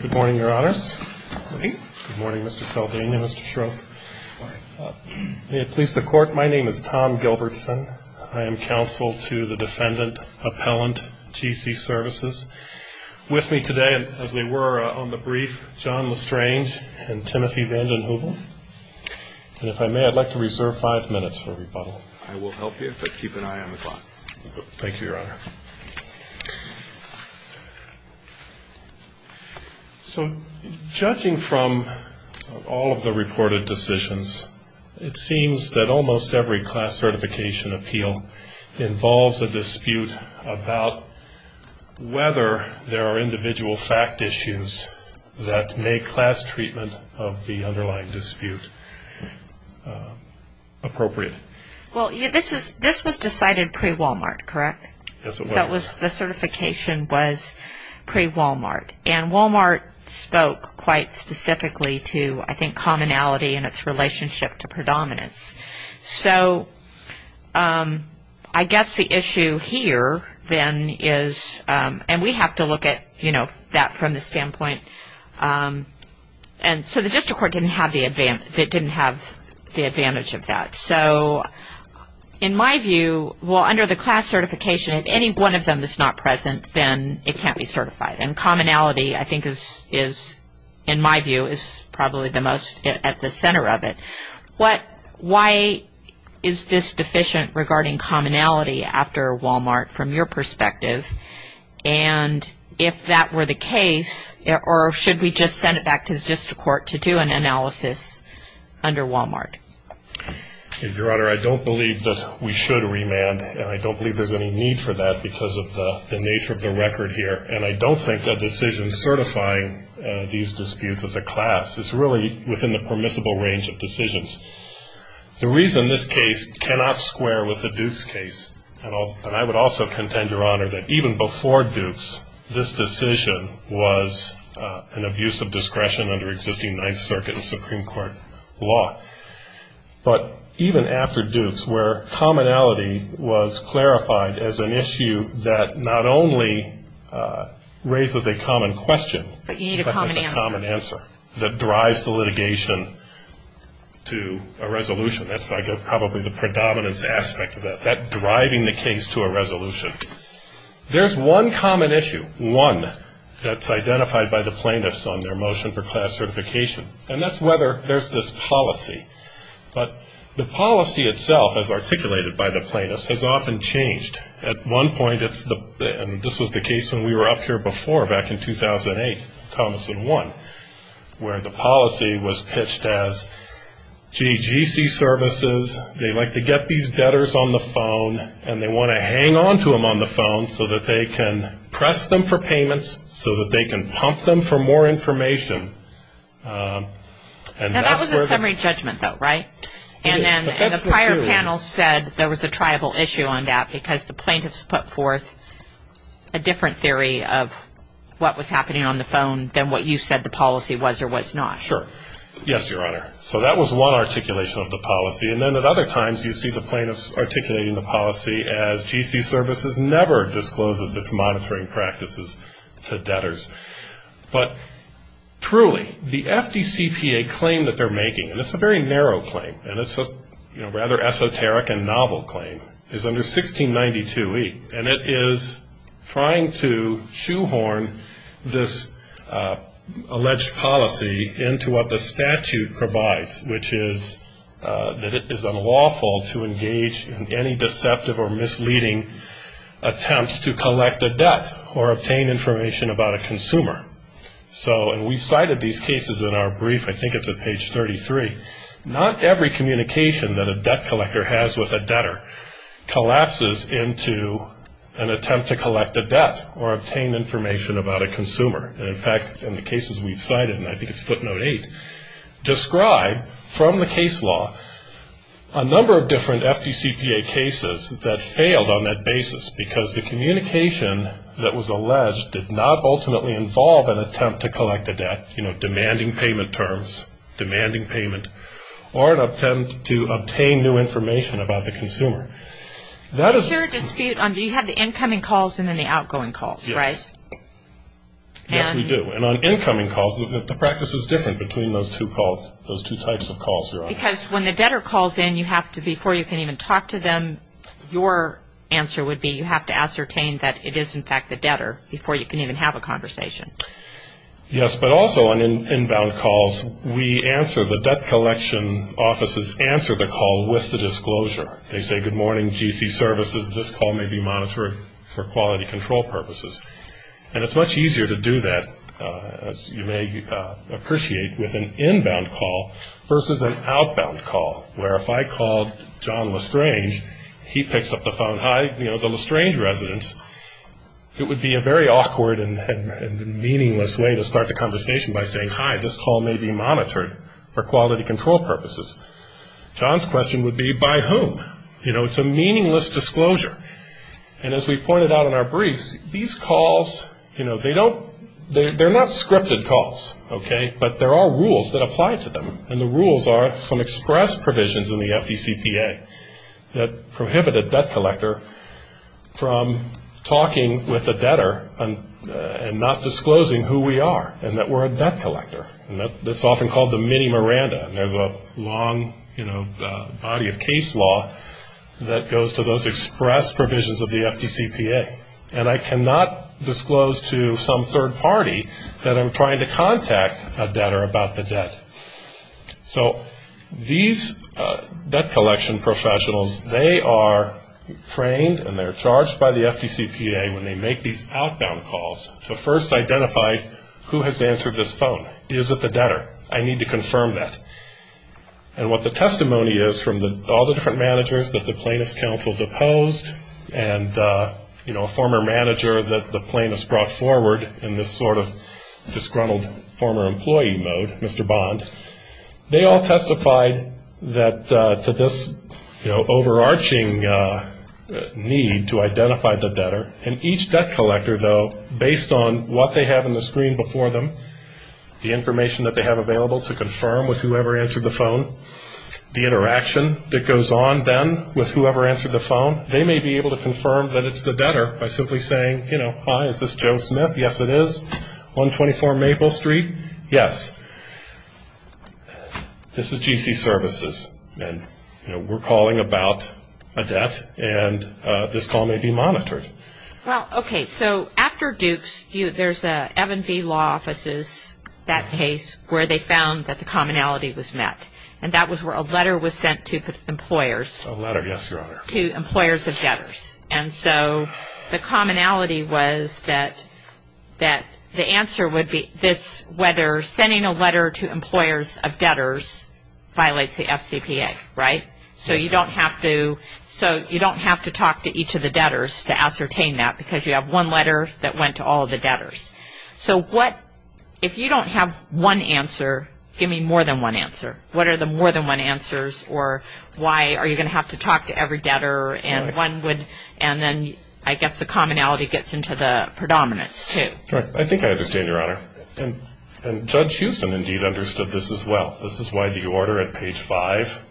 Good morning, Your Honors. Good morning. Good morning, Mr. Salvini and Mr. Shroff. Good morning. May it please the Court, my name is Tom Gilbertson. I am counsel to the defendant, appellant, GC Services. With me today, as they were on the brief, John Lestrange and Timothy Vanden Heuvel. And if I may, I'd like to reserve five minutes for rebuttal. I will help you, but keep an eye on the clock. Thank you, Your Honor. So judging from all of the reported decisions, it seems that almost every class certification appeal involves a dispute about whether there are individual fact issues that make class treatment of the underlying dispute appropriate. Well, this was decided pre-Walmart, correct? Yes, it was. The certification was pre-Walmart. And Walmart spoke quite specifically to, I think, commonality and its relationship to predominance. So I guess the issue here then is, and we have to look at, you know, that from the standpoint. So the district court didn't have the advantage of that. So in my view, well, under the class certification, if any one of them is not present, then it can't be certified. And commonality, I think, is, in my view, is probably the most at the center of it. Why is this deficient regarding commonality after Walmart from your perspective? And if that were the case, or should we just send it back to the district court to do an analysis under Walmart? Your Honor, I don't believe that we should remand, and I don't believe there's any need for that because of the nature of the record here. And I don't think that decision certifying these disputes as a class is really within the permissible range of decisions. The reason this case cannot square with the Dukes case, and I would also contend, Your Honor, that even before Dukes, this decision was an abuse of discretion under existing Ninth Circuit and Supreme Court law. But even after Dukes, where commonality was clarified as an issue that not only raises a common question, but has a common answer that drives the litigation to a resolution, that's probably the predominance aspect of it, that driving the case to a resolution. There's one common issue, one, that's identified by the plaintiffs on their motion for class certification, and that's whether there's this policy. But the policy itself, as articulated by the plaintiffs, has often changed. At one point, and this was the case when we were up here before back in 2008, Thomas and one, where the policy was pitched as, gee, GC services, they like to get these debtors on the phone, and they want to hang on to them on the phone so that they can press them for payments, so that they can pump them for more information. Now, that was a summary judgment, though, right? And then the prior panel said there was a triable issue on that, because the plaintiffs put forth a different theory of what was happening on the phone than what you said the policy was or was not. Sure. Yes, Your Honor. So that was one articulation of the policy, and then at other times you see the plaintiffs articulating the policy as GC services never discloses its monitoring practices to debtors. But truly, the FDCPA claim that they're making, and it's a very narrow claim, and it's a rather esoteric and novel claim, is under 1692e, and it is trying to shoehorn this alleged policy into what the statute provides, which is that it is unlawful to engage in any deceptive or misleading attempts to collect a debt or obtain information about a consumer. And we've cited these cases in our brief. I think it's at page 33. Not every communication that a debt collector has with a debtor collapses into an attempt to collect a debt or obtain information about a consumer. And, in fact, in the cases we've cited, and I think it's footnote 8, describe from the case law a number of different FDCPA cases that failed on that basis, because the communication that was alleged did not ultimately involve an attempt to collect a debt, you know, demanding payment terms, demanding payment, or an attempt to obtain new information about the consumer. Is there a dispute on do you have the incoming calls and then the outgoing calls, right? Yes, we do. And on incoming calls, the practice is different between those two calls, those two types of calls. Because when the debtor calls in, you have to, before you can even talk to them, your answer would be you have to ascertain that it is, in fact, the debtor before you can even have a conversation. Yes, but also on inbound calls, we answer, the debt collection offices answer the call with the disclosure. They say, good morning, GC services, this call may be monitored for quality control purposes. And it's much easier to do that, as you may appreciate, with an inbound call versus an outbound call, where if I called John Lestrange, he picks up the phone, hi, you know, the Lestrange residence, it would be a very awkward and meaningless way to start the conversation by saying, hi, this call may be monitored for quality control purposes. John's question would be, by whom? You know, it's a meaningless disclosure. And as we pointed out in our briefs, these calls, you know, they don't, they're not scripted calls, okay, but there are rules that apply to them. And the rules are some express provisions in the FDCPA that prohibit a debt collector from talking with a debtor and not disclosing who we are and that we're a debt collector. And that's often called the mini Miranda. There's a long, you know, body of case law that goes to those express provisions of the FDCPA. And I cannot disclose to some third party that I'm trying to contact a debtor about the debt. So these debt collection professionals, they are trained and they're charged by the FDCPA when they make these outbound calls to first identify who has answered this phone. Is it the debtor? I need to confirm that. And what the testimony is from all the different managers that the Plaintiffs' Council deposed and, you know, a former manager that the plaintiffs brought forward in this sort of disgruntled former employee mode, Mr. Bond, they all testified that to this, you know, overarching need to identify the debtor. And each debt collector, though, based on what they have on the screen before them, the information that they have available to confirm with whoever answered the phone, the interaction that goes on then with whoever answered the phone, they may be able to confirm that it's the debtor by simply saying, you know, hi, is this Joe Smith? Yes, it is. 124 Maple Street. Yes. This is GC Services. And, you know, we're calling about a debt, and this call may be monitored. Well, okay, so after Dukes, there's an F&B law offices, that case, where they found that the commonality was met. And that was where a letter was sent to employers. A letter, yes, Your Honor. To employers of debtors. And so the commonality was that the answer would be this, whether sending a letter to employers of debtors violates the FCPA, right? So you don't have to talk to each of the debtors to ascertain that, because you have one letter that went to all of the debtors. So if you don't have one answer, give me more than one answer. What are the more than one answers, or why are you going to have to talk to every debtor, and one would, and then I guess the commonality gets into the predominance, too. Right. I think I understand, Your Honor. And Judge Houston, indeed, understood this as well. This is why the order at page 5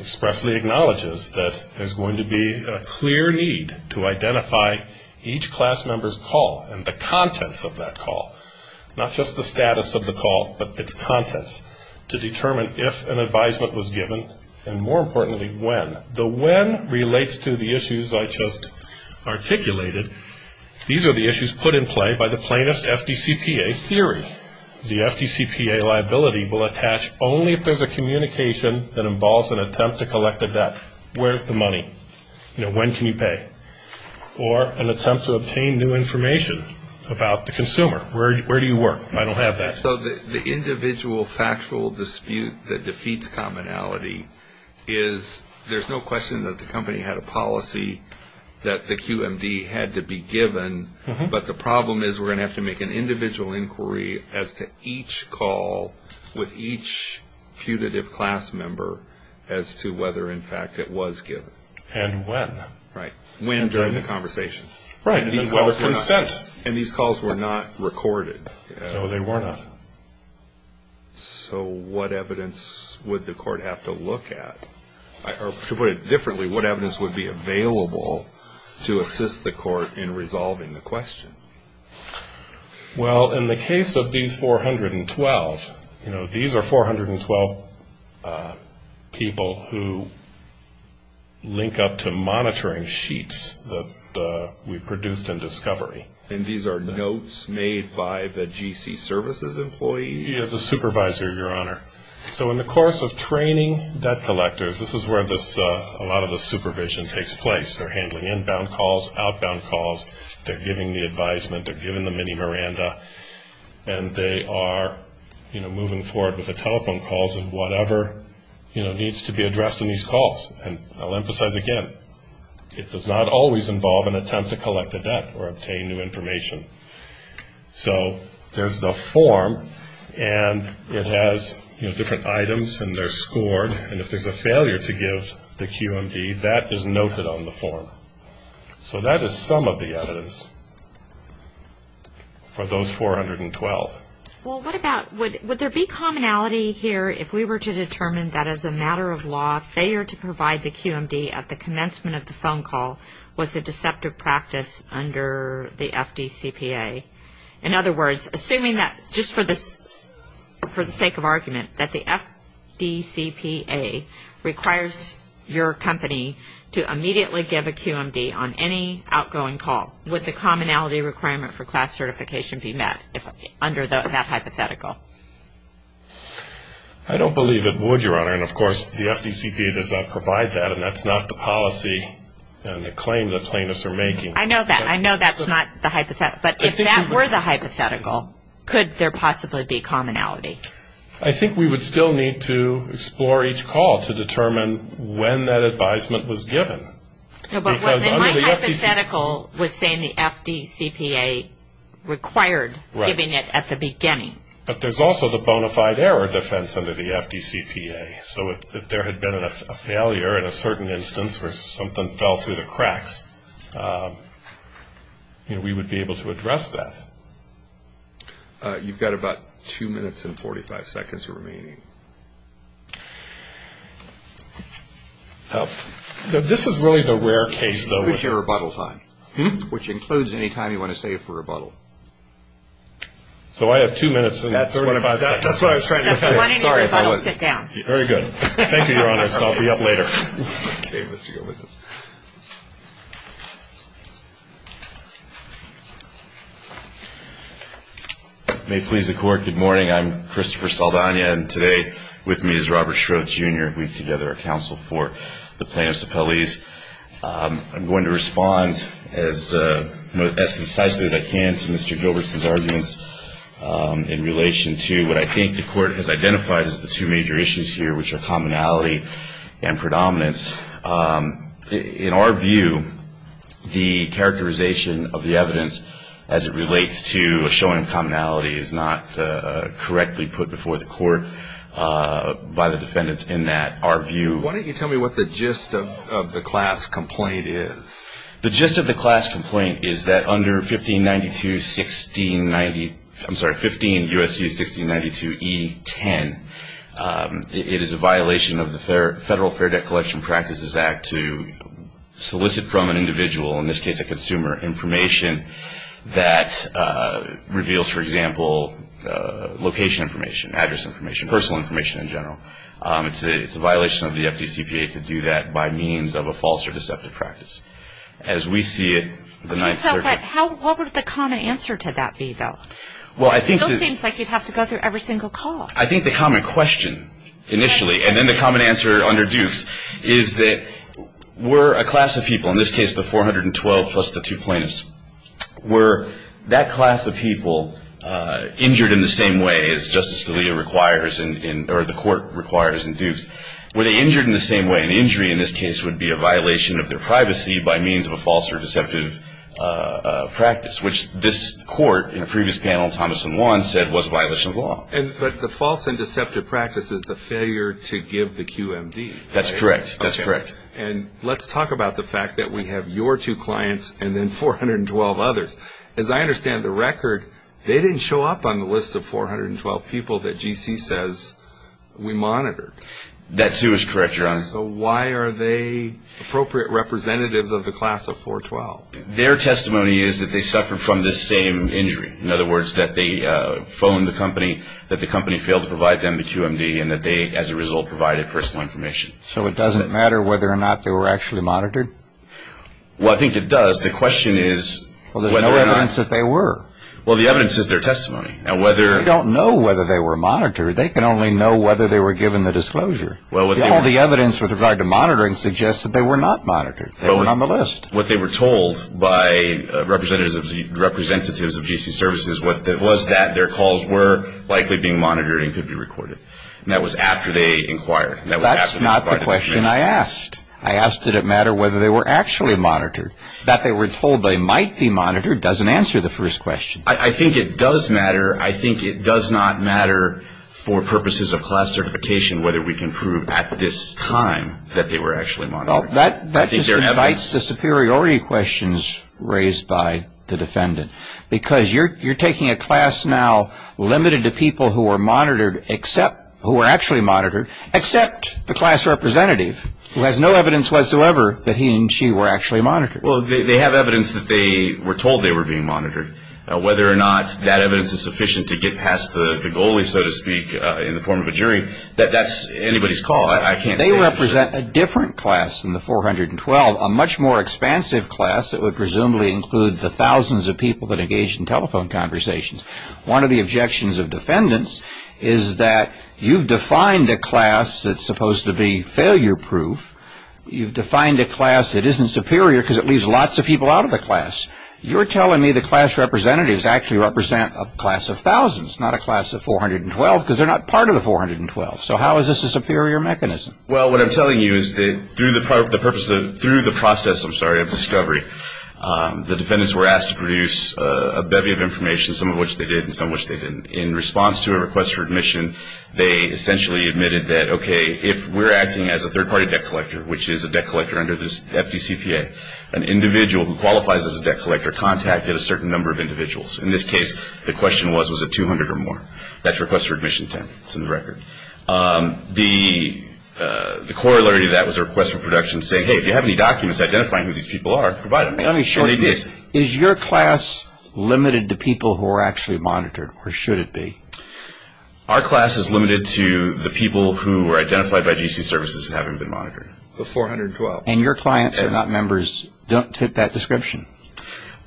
expressly acknowledges that there's going to be a clear need to identify each class member's call and the contents of that call, not just the status of the call, but its contents, to determine if an advisement was given, and more importantly, when. The when relates to the issues I just articulated. These are the issues put in play by the plaintiff's FDCPA theory. The FDCPA liability will attach only if there's a communication that involves an attempt to collect a debt. Where's the money? You know, when can you pay? Or an attempt to obtain new information about the consumer. Where do you work? I don't have that. So the individual factual dispute that defeats commonality is there's no question that the company had a policy that the QMD had to be given, but the problem is we're going to have to make an individual inquiry as to each call with each putative class member as to whether, in fact, it was given. And when. Right. When during the conversation. Right. And whether consent. And these calls were not recorded. No, they were not. So what evidence would the court have to look at? Or to put it differently, what evidence would be available to assist the court in resolving the question? Well, in the case of these 412, you know, these are 412 people who link up to monitoring sheets that we produced in discovery. And these are notes made by the GC services employee? Yeah, the supervisor, Your Honor. So in the course of training debt collectors, this is where a lot of the supervision takes place. They're handling inbound calls, outbound calls. They're giving the advisement. They're giving the mini Miranda. And they are, you know, moving forward with the telephone calls and whatever, you know, needs to be addressed in these calls. And I'll emphasize again, it does not always involve an attempt to collect a debt or obtain new information. So there's the form, and it has, you know, different items, and they're scored. And if there's a failure to give the QMD, that is noted on the form. So that is some of the evidence for those 412. Well, what about would there be commonality here if we were to determine that as a matter of law, failure to provide the QMD at the commencement of the phone call was a deceptive practice under the FDCPA? In other words, assuming that just for the sake of argument, that the FDCPA requires your company to immediately give a QMD on any outgoing call, would the commonality requirement for class certification be met under that hypothetical? I don't believe it would, Your Honor. And, of course, the FDCPA does not provide that, and that's not the policy and the claim that plaintiffs are making. I know that. I know that's not the hypothetical. But if that were the hypothetical, could there possibly be commonality? I think we would still need to explore each call to determine when that advisement was given. My hypothetical was saying the FDCPA required giving it at the beginning. But there's also the bona fide error defense under the FDCPA. So if there had been a failure in a certain instance where something fell through the cracks, we would be able to address that. You've got about 2 minutes and 45 seconds remaining. This is really the rare case, though. Which includes your rebuttal time. Which includes any time you want to save for rebuttal. So I have 2 minutes and 35 seconds. That's what I was trying to get at. If you want any rebuttal, sit down. Very good. Thank you, Your Honor. I'll be up later. Okay. Let's go with it. May it please the Court. Good morning. I'm Christopher Saldana, and today with me is Robert Shroth, Jr., and we've together a counsel for the plaintiffs' appellees. I'm going to respond as concisely as I can to Mr. Gilbertson's arguments in relation to what I think the Court has identified as the two major issues here, which are commonality and predominance. In our view, the characterization of the evidence as it relates to a showing of commonality is not correctly put before the Court by the defendants in that our view. Why don't you tell me what the gist of the class complaint is? The gist of the class complaint is that under 1592-1690, I'm sorry, 15 U.S.C. 1692-E-10, it is a violation of the Federal Fair Debt Collection Practices Act to solicit from an individual, in this case a consumer, information that reveals, for example, location information, address information, personal information in general. It's a violation of the FDCPA to do that by means of a false or deceptive practice. As we see it, the Ninth Circuit. What would the common answer to that be, though? It still seems like you'd have to go through every single call. I think the common question initially, and then the common answer under Dukes, is that were a class of people, in this case the 412 plus the two plaintiffs, were that class of people injured in the same way as Justice Scalia requires or the Court requires in Dukes? Were they injured in the same way? An injury in this case would be a violation of their privacy by means of a false or deceptive practice, which this Court in a previous panel, Thomas and Juan, said was a violation of the law. But the false and deceptive practice is the failure to give the QMD. That's correct. That's correct. And let's talk about the fact that we have your two clients and then 412 others. As I understand the record, they didn't show up on the list of 412 people that GC says we monitored. That too is correct, Your Honor. So why are they appropriate representatives of the class of 412? Their testimony is that they suffered from the same injury. In other words, that they phoned the company, that the company failed to provide them the QMD, and that they, as a result, provided personal information. So it doesn't matter whether or not they were actually monitored? Well, I think it does. The question is whether or not. Well, there's no evidence that they were. Well, the evidence is their testimony. Now, whether... They don't know whether they were monitored. They can only know whether they were given the disclosure. All the evidence with regard to monitoring suggests that they were not monitored. They weren't on the list. What they were told by representatives of GC services was that their calls were likely being monitored and could be recorded. And that was after they inquired. That's not the question I asked. I asked did it matter whether they were actually monitored. That they were told they might be monitored doesn't answer the first question. I think it does matter. I think it does not matter for purposes of class certification whether we can prove at this time that they were actually monitored. Well, that just invites the superiority questions raised by the defendant. Because you're taking a class now limited to people who were monitored, who were actually monitored, except the class representative who has no evidence whatsoever that he and she were actually monitored. Well, they have evidence that they were told they were being monitored. Whether or not that evidence is sufficient to get past the goalie, so to speak, in the form of a jury, that's anybody's call. They represent a different class than the 412, a much more expansive class that would presumably include the thousands of people that engage in telephone conversations. One of the objections of defendants is that you've defined a class that's supposed to be failure-proof. You've defined a class that isn't superior because it leaves lots of people out of the class. You're telling me the class representatives actually represent a class of thousands, not a class of 412, because they're not part of the 412. So how is this a superior mechanism? Well, what I'm telling you is that through the process of discovery, the defendants were asked to produce a bevy of information, some of which they did and some of which they didn't. In response to a request for admission, they essentially admitted that, okay, if we're acting as a third-party debt collector, which is a debt collector under the FDCPA, an individual who qualifies as a debt collector contacted a certain number of individuals. In this case, the question was, was it 200 or more? That's a request for admission 10. It's in the record. The corollary to that was a request for production saying, hey, if you have any documents identifying who these people are, provide them. Let me shorten this. Is your class limited to people who are actually monitored, or should it be? Our class is limited to the people who are identified by GC services and haven't been monitored. The 412. And your clients are not members, don't fit that description.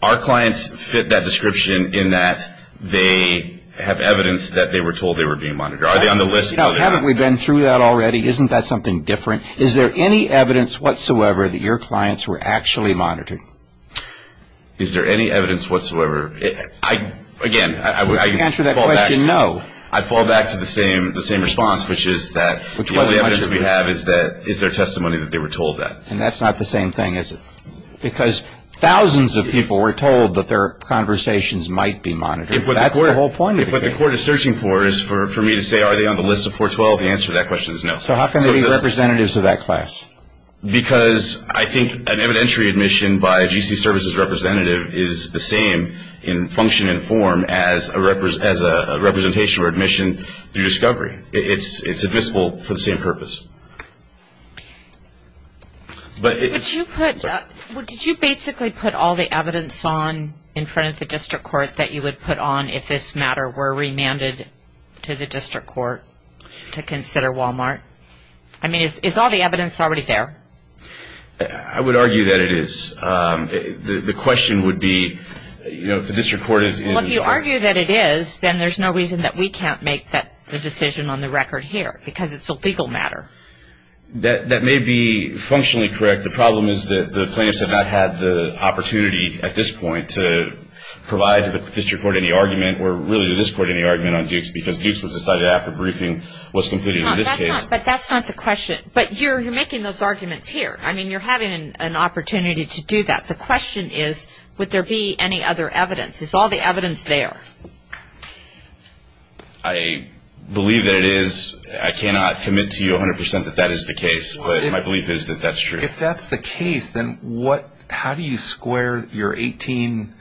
Our clients fit that description in that they have evidence that they were told they were being monitored. Are they on the list? No. Haven't we been through that already? Isn't that something different? Is there any evidence whatsoever that your clients were actually monitored? Is there any evidence whatsoever? Again, I would fall back to the same response, which is that the only evidence we have is their testimony that they were told that. And that's not the same thing, is it? Because thousands of people were told that their conversations might be monitored. That's the whole point of it. If what the court is searching for is for me to say are they on the list of 412, the answer to that question is no. So how can they be representatives of that class? Because I think an evidentiary admission by a GC services representative is the same in function and form as a representation or admission through discovery. It's admissible for the same purpose. Did you basically put all the evidence on in front of the district court that you would put on if this matter were remanded to the district court to consider Walmart? I mean, is all the evidence already there? I would argue that it is. The question would be, you know, if the district court is in the short. Well, if you argue that it is, then there's no reason that we can't make the decision on the record here because it's a legal matter. That may be functionally correct. The problem is that the plaintiffs have not had the opportunity at this point to provide to the district court any argument or really to this court any argument on Dukes because Dukes was decided after briefing was concluded in this case. But that's not the question. But you're making those arguments here. I mean, you're having an opportunity to do that. The question is would there be any other evidence? Is all the evidence there? I believe that it is. I cannot commit to you 100% that that is the case, but my belief is that that's true. If that's the case, then how do you square your 18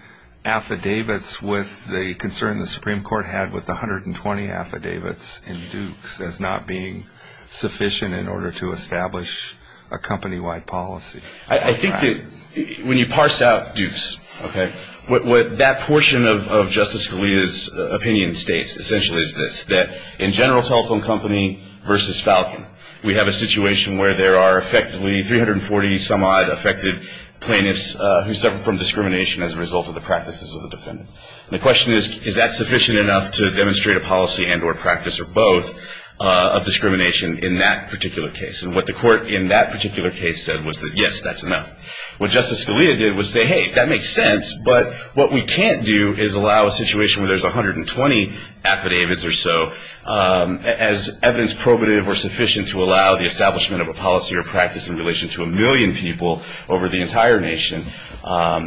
affidavits with the concern the Supreme Court had with the 120 affidavits in Dukes as not being sufficient in order to establish a company-wide policy? I think that when you parse out Dukes, okay, what that portion of Justice Scalia's opinion states essentially is this, that in general telephone company versus Falcon, we have a situation where there are effectively 340-some-odd affected plaintiffs who suffer from discrimination as a result of the practices of the defendant. And the question is, is that sufficient enough to demonstrate a policy and or practice or both of discrimination in that particular case? And what the court in that particular case said was that, yes, that's enough. What Justice Scalia did was say, hey, that makes sense, but what we can't do is allow a situation where there's 120 affidavits or so as evidence probative or sufficient to allow the establishment of a policy or practice in relation to a million people over the entire nation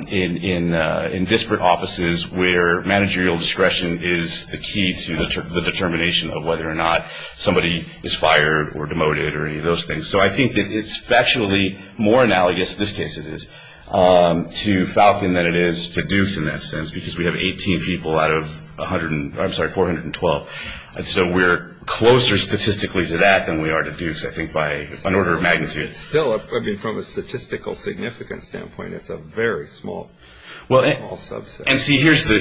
in disparate offices where managerial discretion is the key to the determination of whether or not somebody is fired or demoted or any of those things. So I think that it's factually more analogous, in this case it is, to Falcon than it is to Dukes in that sense because we have 18 people out of a hundred and, I'm sorry, 412. So we're closer statistically to that than we are to Dukes I think by an order of magnitude. It's still, I mean, from a statistical significance standpoint, it's a very small subset. And see, here's the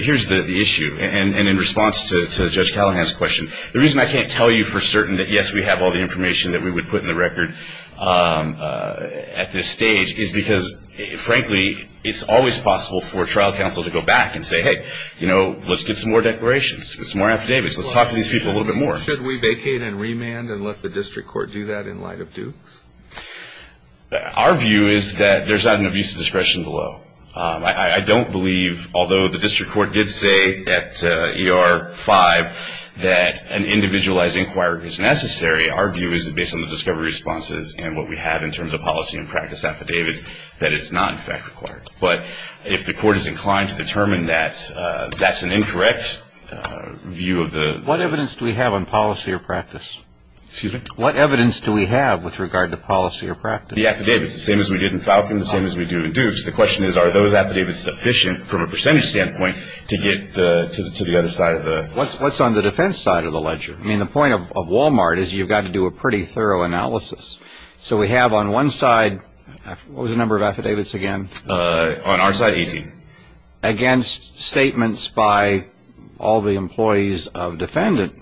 issue. And in response to Judge Callahan's question, the reason I can't tell you for certain that, yes, we have all the information that we would put in the record at this stage is because, frankly, it's always possible for trial counsel to go back and say, hey, you know, let's get some more declarations, get some more affidavits, let's talk to these people a little bit more. Should we vacate and remand and let the district court do that in light of Dukes? Our view is that there's not an abuse of discretion below. I don't believe, although the district court did say at ER-5 that an individualized inquiry is necessary, our view is that based on the discovery responses and what we have in terms of policy and practice affidavits that it's not in fact required. But if the court is inclined to determine that that's an incorrect view of the ---- What evidence do we have on policy or practice? Excuse me? What evidence do we have with regard to policy or practice? The affidavits, the same as we did in Falcon, the same as we do in Dukes. The question is, are those affidavits sufficient from a percentage standpoint to get to the other side of the ---- What's on the defense side of the ledger? I mean, the point of Walmart is you've got to do a pretty thorough analysis. So we have on one side, what was the number of affidavits again? On our side, 18. Against statements by all the employees of defendant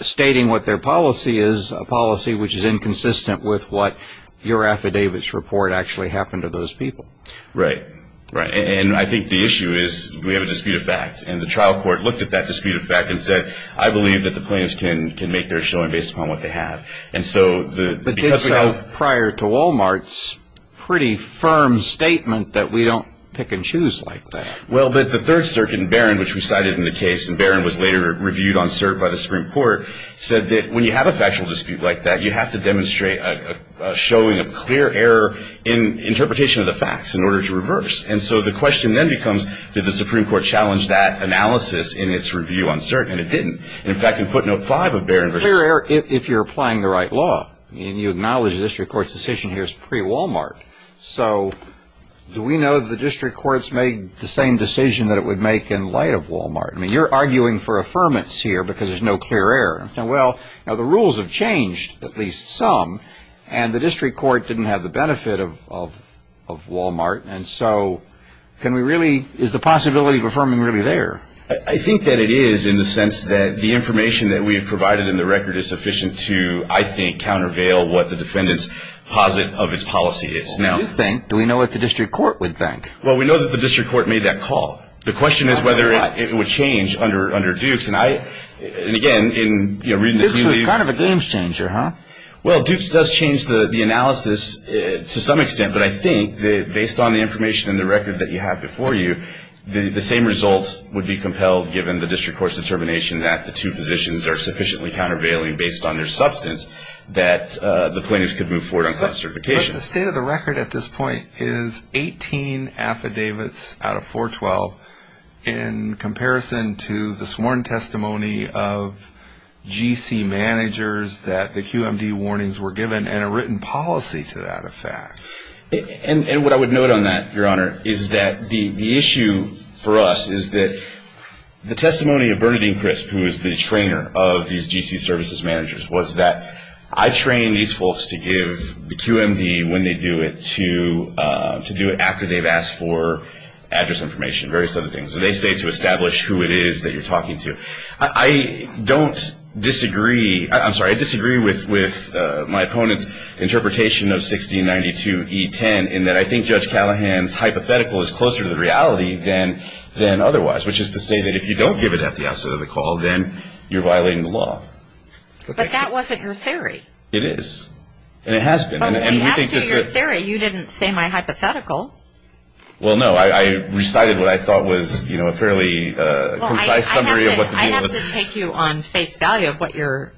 stating what their policy is, a policy which is inconsistent with what your affidavits report actually happened to those people. Right. Right. And I think the issue is we have a dispute of fact. And the trial court looked at that dispute of fact and said, I believe that the plaintiffs can make their showing based upon what they have. And so the ---- But this was prior to Walmart's pretty firm statement that we don't pick and choose like that. Well, but the Third Circuit in Barron, which we cited in the case, and Barron was later reviewed on cert by the Supreme Court, said that when you have a factual dispute like that, you have to demonstrate a showing of clear error in interpretation of the facts in order to reverse. And so the question then becomes, did the Supreme Court challenge that analysis in its review on cert? And it didn't. In fact, in footnote 5 of Barron versus ---- Clear error if you're applying the right law. And you acknowledge the district court's decision here is pre-Walmart. So do we know that the district courts made the same decision that it would make in light of Walmart? I mean, you're arguing for affirmance here because there's no clear error. Well, now the rules have changed, at least some, and the district court didn't have the benefit of Walmart. And so can we really ---- is the possibility of affirming really there? I think that it is in the sense that the information that we have provided in the record is sufficient to, I think, countervail what the defendants posit of its policy is. Well, we do think. Do we know what the district court would think? Well, we know that the district court made that call. The question is whether it would change under Dukes. And, again, in reading the ---- Dukes was kind of a game changer, huh? Well, Dukes does change the analysis to some extent. But I think that based on the information in the record that you have before you, the same result would be compelled given the district court's determination that the two positions are sufficiently countervailing based on their substance that the plaintiffs could move forward on class certification. But the state of the record at this point is 18 affidavits out of 412 in comparison to the sworn testimony of GC managers that the QMD warnings were given and a written policy to that effect. And what I would note on that, Your Honor, is that the issue for us is that the testimony of Bernadine Crisp, who is the trainer of these GC services managers, was that I train these folks to give the QMD when they do it to do it after they've asked for address information, various other things. So they say to establish who it is that you're talking to. I don't disagree. I'm sorry. I disagree with my opponent's interpretation of 1692E10 in that I think Judge Callahan's hypothetical is closer to the reality than otherwise, which is to say that if you don't give it at the outset of the call, then you're violating the law. But that wasn't your theory. It is. And it has been. But we have to do your theory. You didn't say my hypothetical. Well, no. I recited what I thought was a fairly concise summary of what the deal was. Well, I have to take you on face value of what your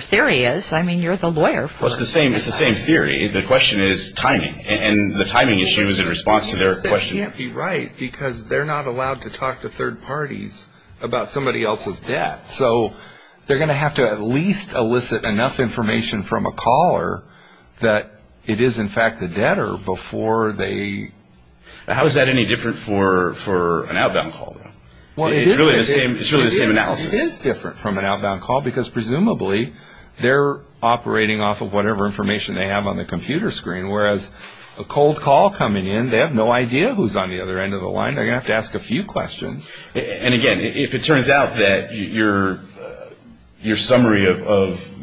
theory is. I mean, you're the lawyer, of course. Well, it's the same theory. The question is timing. And the timing issue is in response to their question. But they can't be right because they're not allowed to talk to third parties about somebody else's debt. So they're going to have to at least elicit enough information from a caller that it is, in fact, a debtor before they... How is that any different for an outbound call, though? It's really the same analysis. It is different from an outbound call because, presumably, they're operating off of whatever information they have on the computer screen, whereas a cold call coming in, they have no idea who's on the other end of the line. They're going to have to ask a few questions. And, again, if it turns out that your summary of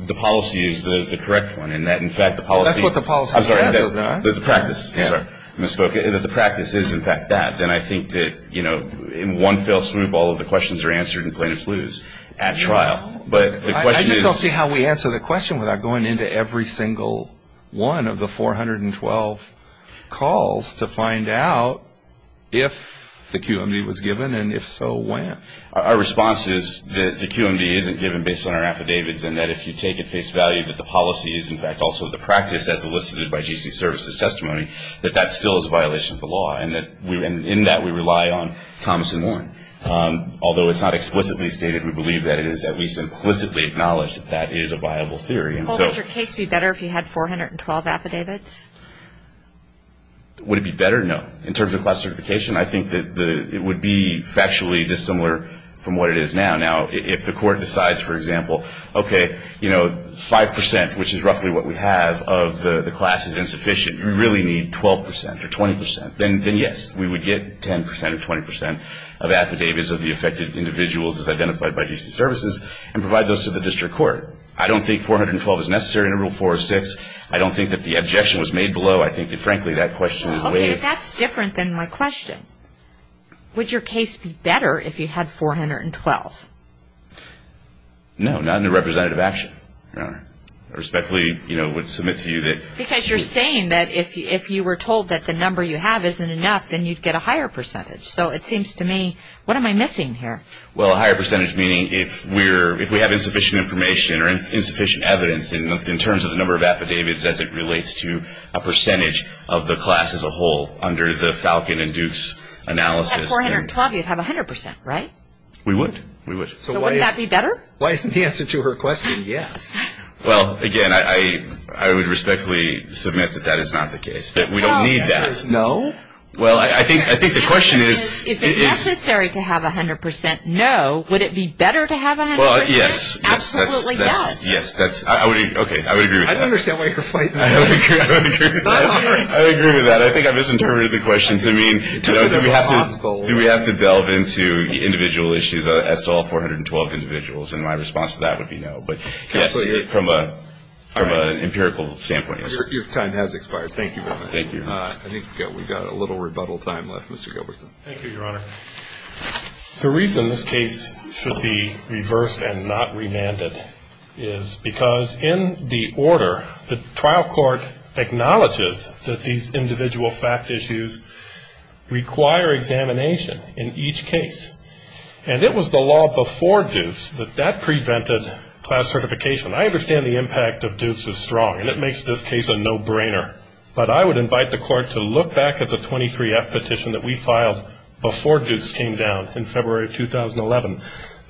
the policy is the correct one and that, in fact, the policy... Well, that's what the policy says, isn't it? I'm sorry. The practice. I'm sorry. I misspoke. The practice is, in fact, that. Then I think that, you know, in one fell swoop, all of the questions are answered and plaintiffs lose at trial. But the question is...... calls to find out if the QMD was given and, if so, when. Our response is that the QMD isn't given based on our affidavits and that if you take at face value that the policy is, in fact, also the practice as elicited by GC services testimony, that that still is a violation of the law. And that we... And in that, we rely on Thomas and Warren. Although it's not explicitly stated, we believe that it is. We implicitly acknowledge that that is a viable theory. Well, would your case be better if you had 412 affidavits? Would it be better? No. In terms of class certification, I think that it would be factually dissimilar from what it is now. Now, if the court decides, for example, okay, you know, 5 percent, which is roughly what we have, of the class is insufficient. We really need 12 percent or 20 percent. Then, yes, we would get 10 percent or 20 percent of affidavits of the affected individuals as identified by GC services and provide those to the district court. I don't think 412 is necessary under Rule 406. I don't think that the objection was made below. I think that, frankly, that question is way... Okay, but that's different than my question. Would your case be better if you had 412? No, not in a representative action. I respectfully, you know, would submit to you that... Because you're saying that if you were told that the number you have isn't enough, then you'd get a higher percentage. So it seems to me, what am I missing here? Well, a higher percentage meaning if we have insufficient information or insufficient evidence in terms of the number of affidavits as it relates to a percentage of the class as a whole under the Falcon and Duke's analysis... If you had 412, you'd have 100 percent, right? We would. We would. So wouldn't that be better? Why isn't the answer to her question yes? Well, again, I would respectfully submit that that is not the case, that we don't need that. No? Well, I think the question is... No. Would it be better to have 100 percent? Well, yes. Absolutely yes. Yes. Okay. I would agree with that. I don't understand why you're fighting. I agree with that. I think I misinterpreted the question to mean... Do we have to delve into individual issues as to all 412 individuals? And my response to that would be no. But yes, from an empirical standpoint. Your time has expired. Thank you very much. Thank you. I think we've got a little rebuttal time left, Mr. Gilbertson. Thank you, Your Honor. The reason this case should be reversed and not remanded is because in the order, the trial court acknowledges that these individual fact issues require examination in each case. And it was the law before Dukes that that prevented class certification. I understand the impact of Dukes is strong, and it makes this case a no-brainer. But I would invite the Court to look back at the 23F petition that we filed before Dukes came down in February of 2011,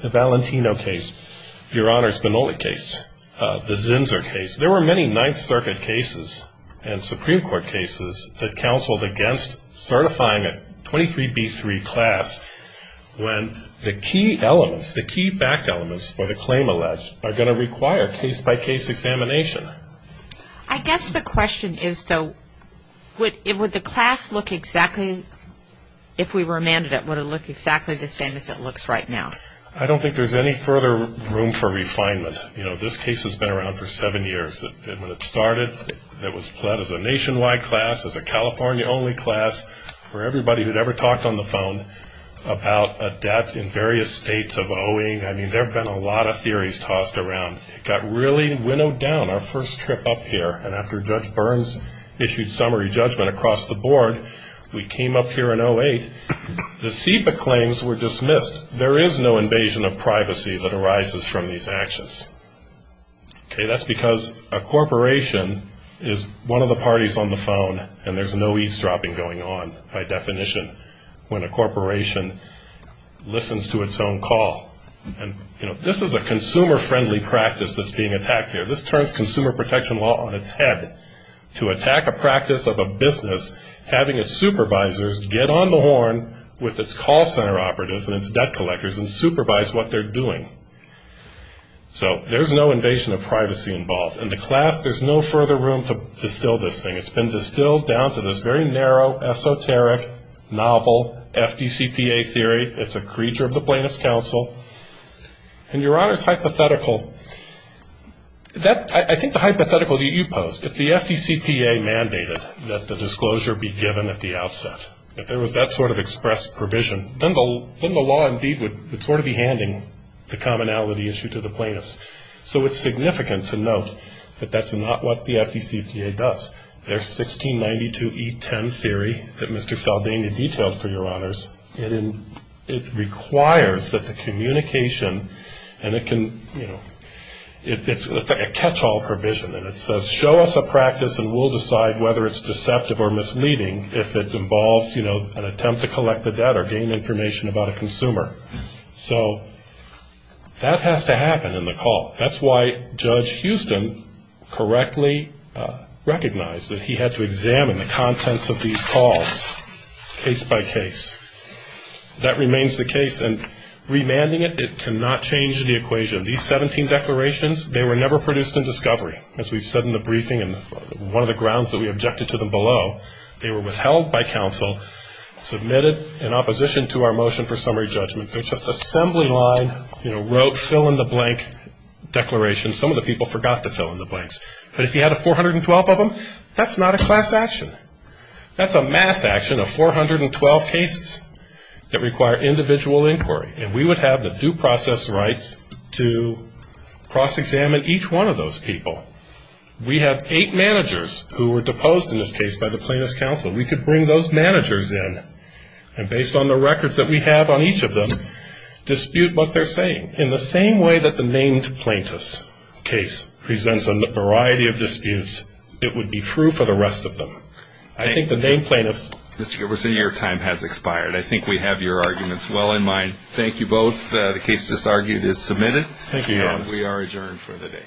the Valentino case, Your Honor's Benolli case, the Zinsser case. There were many Ninth Circuit cases and Supreme Court cases that counseled against certifying a 23B3 class when the key elements, the key fact elements for the claim alleged are going to require case-by-case examination. I guess the question is, though, would the class look exactly, if we remanded it, would it look exactly the same as it looks right now? I don't think there's any further room for refinement. You know, this case has been around for seven years. And when it started, it was pled as a nationwide class, as a California-only class. For everybody who had ever talked on the phone about a debt in various states of owing, I mean, there have been a lot of theories tossed around. It got really winnowed down our first trip up here. And after Judge Burns issued summary judgment across the board, we came up here in 2008. The SEPA claims were dismissed. There is no invasion of privacy that arises from these actions. That's because a corporation is one of the parties on the phone, and there's no eavesdropping going on by definition when a corporation listens to its own call. And, you know, this is a consumer-friendly practice that's being attacked here. This turns consumer protection law on its head to attack a practice of a business having its supervisors get on the horn with its call center operatives and its debt collectors and supervise what they're doing. So there's no invasion of privacy involved. In the class, there's no further room to distill this thing. It's been distilled down to this very narrow, esoteric, novel FDCPA theory. It's a creature of the plaintiff's counsel. And Your Honor's hypothetical, I think the hypothetical that you posed, if the FDCPA mandated that the disclosure be given at the outset, if there was that sort of express provision, then the law indeed would sort of be handing the commonality issue to the plaintiffs. So it's significant to note that that's not what the FDCPA does. There's 1692E10 theory that Mr. Saldana detailed for Your Honors. It requires that the communication and it can, you know, it's a catch-all provision. And it says, show us a practice and we'll decide whether it's deceptive or misleading if it involves, you know, an attempt to collect the debt or gain information about a consumer. So that has to happen in the call. That's why Judge Houston correctly recognized that he had to examine the contents of these calls case by case. That remains the case. And remanding it, it cannot change the equation. These 17 declarations, they were never produced in discovery. As we've said in the briefing and one of the grounds that we objected to them below, they were withheld by counsel, submitted in opposition to our motion for summary judgment. They're just assembly line, you know, wrote fill-in-the-blank declarations. Some of the people forgot to fill in the blanks. But if you had a 412 of them, that's not a class action. That's a mass action of 412 cases that require individual inquiry. And we would have the due process rights to cross-examine each one of those people. We have eight managers who were deposed in this case by the plaintiff's counsel. We could bring those managers in and, based on the records that we have on each of them, dispute what they're saying. In the same way that the named plaintiff's case presents a variety of disputes, it would be true for the rest of them. I think the named plaintiff's. Mr. Giberson, your time has expired. I think we have your arguments well in mind. Thank you both. The case just argued is submitted. Thank you, Your Honor. We are adjourned for the day.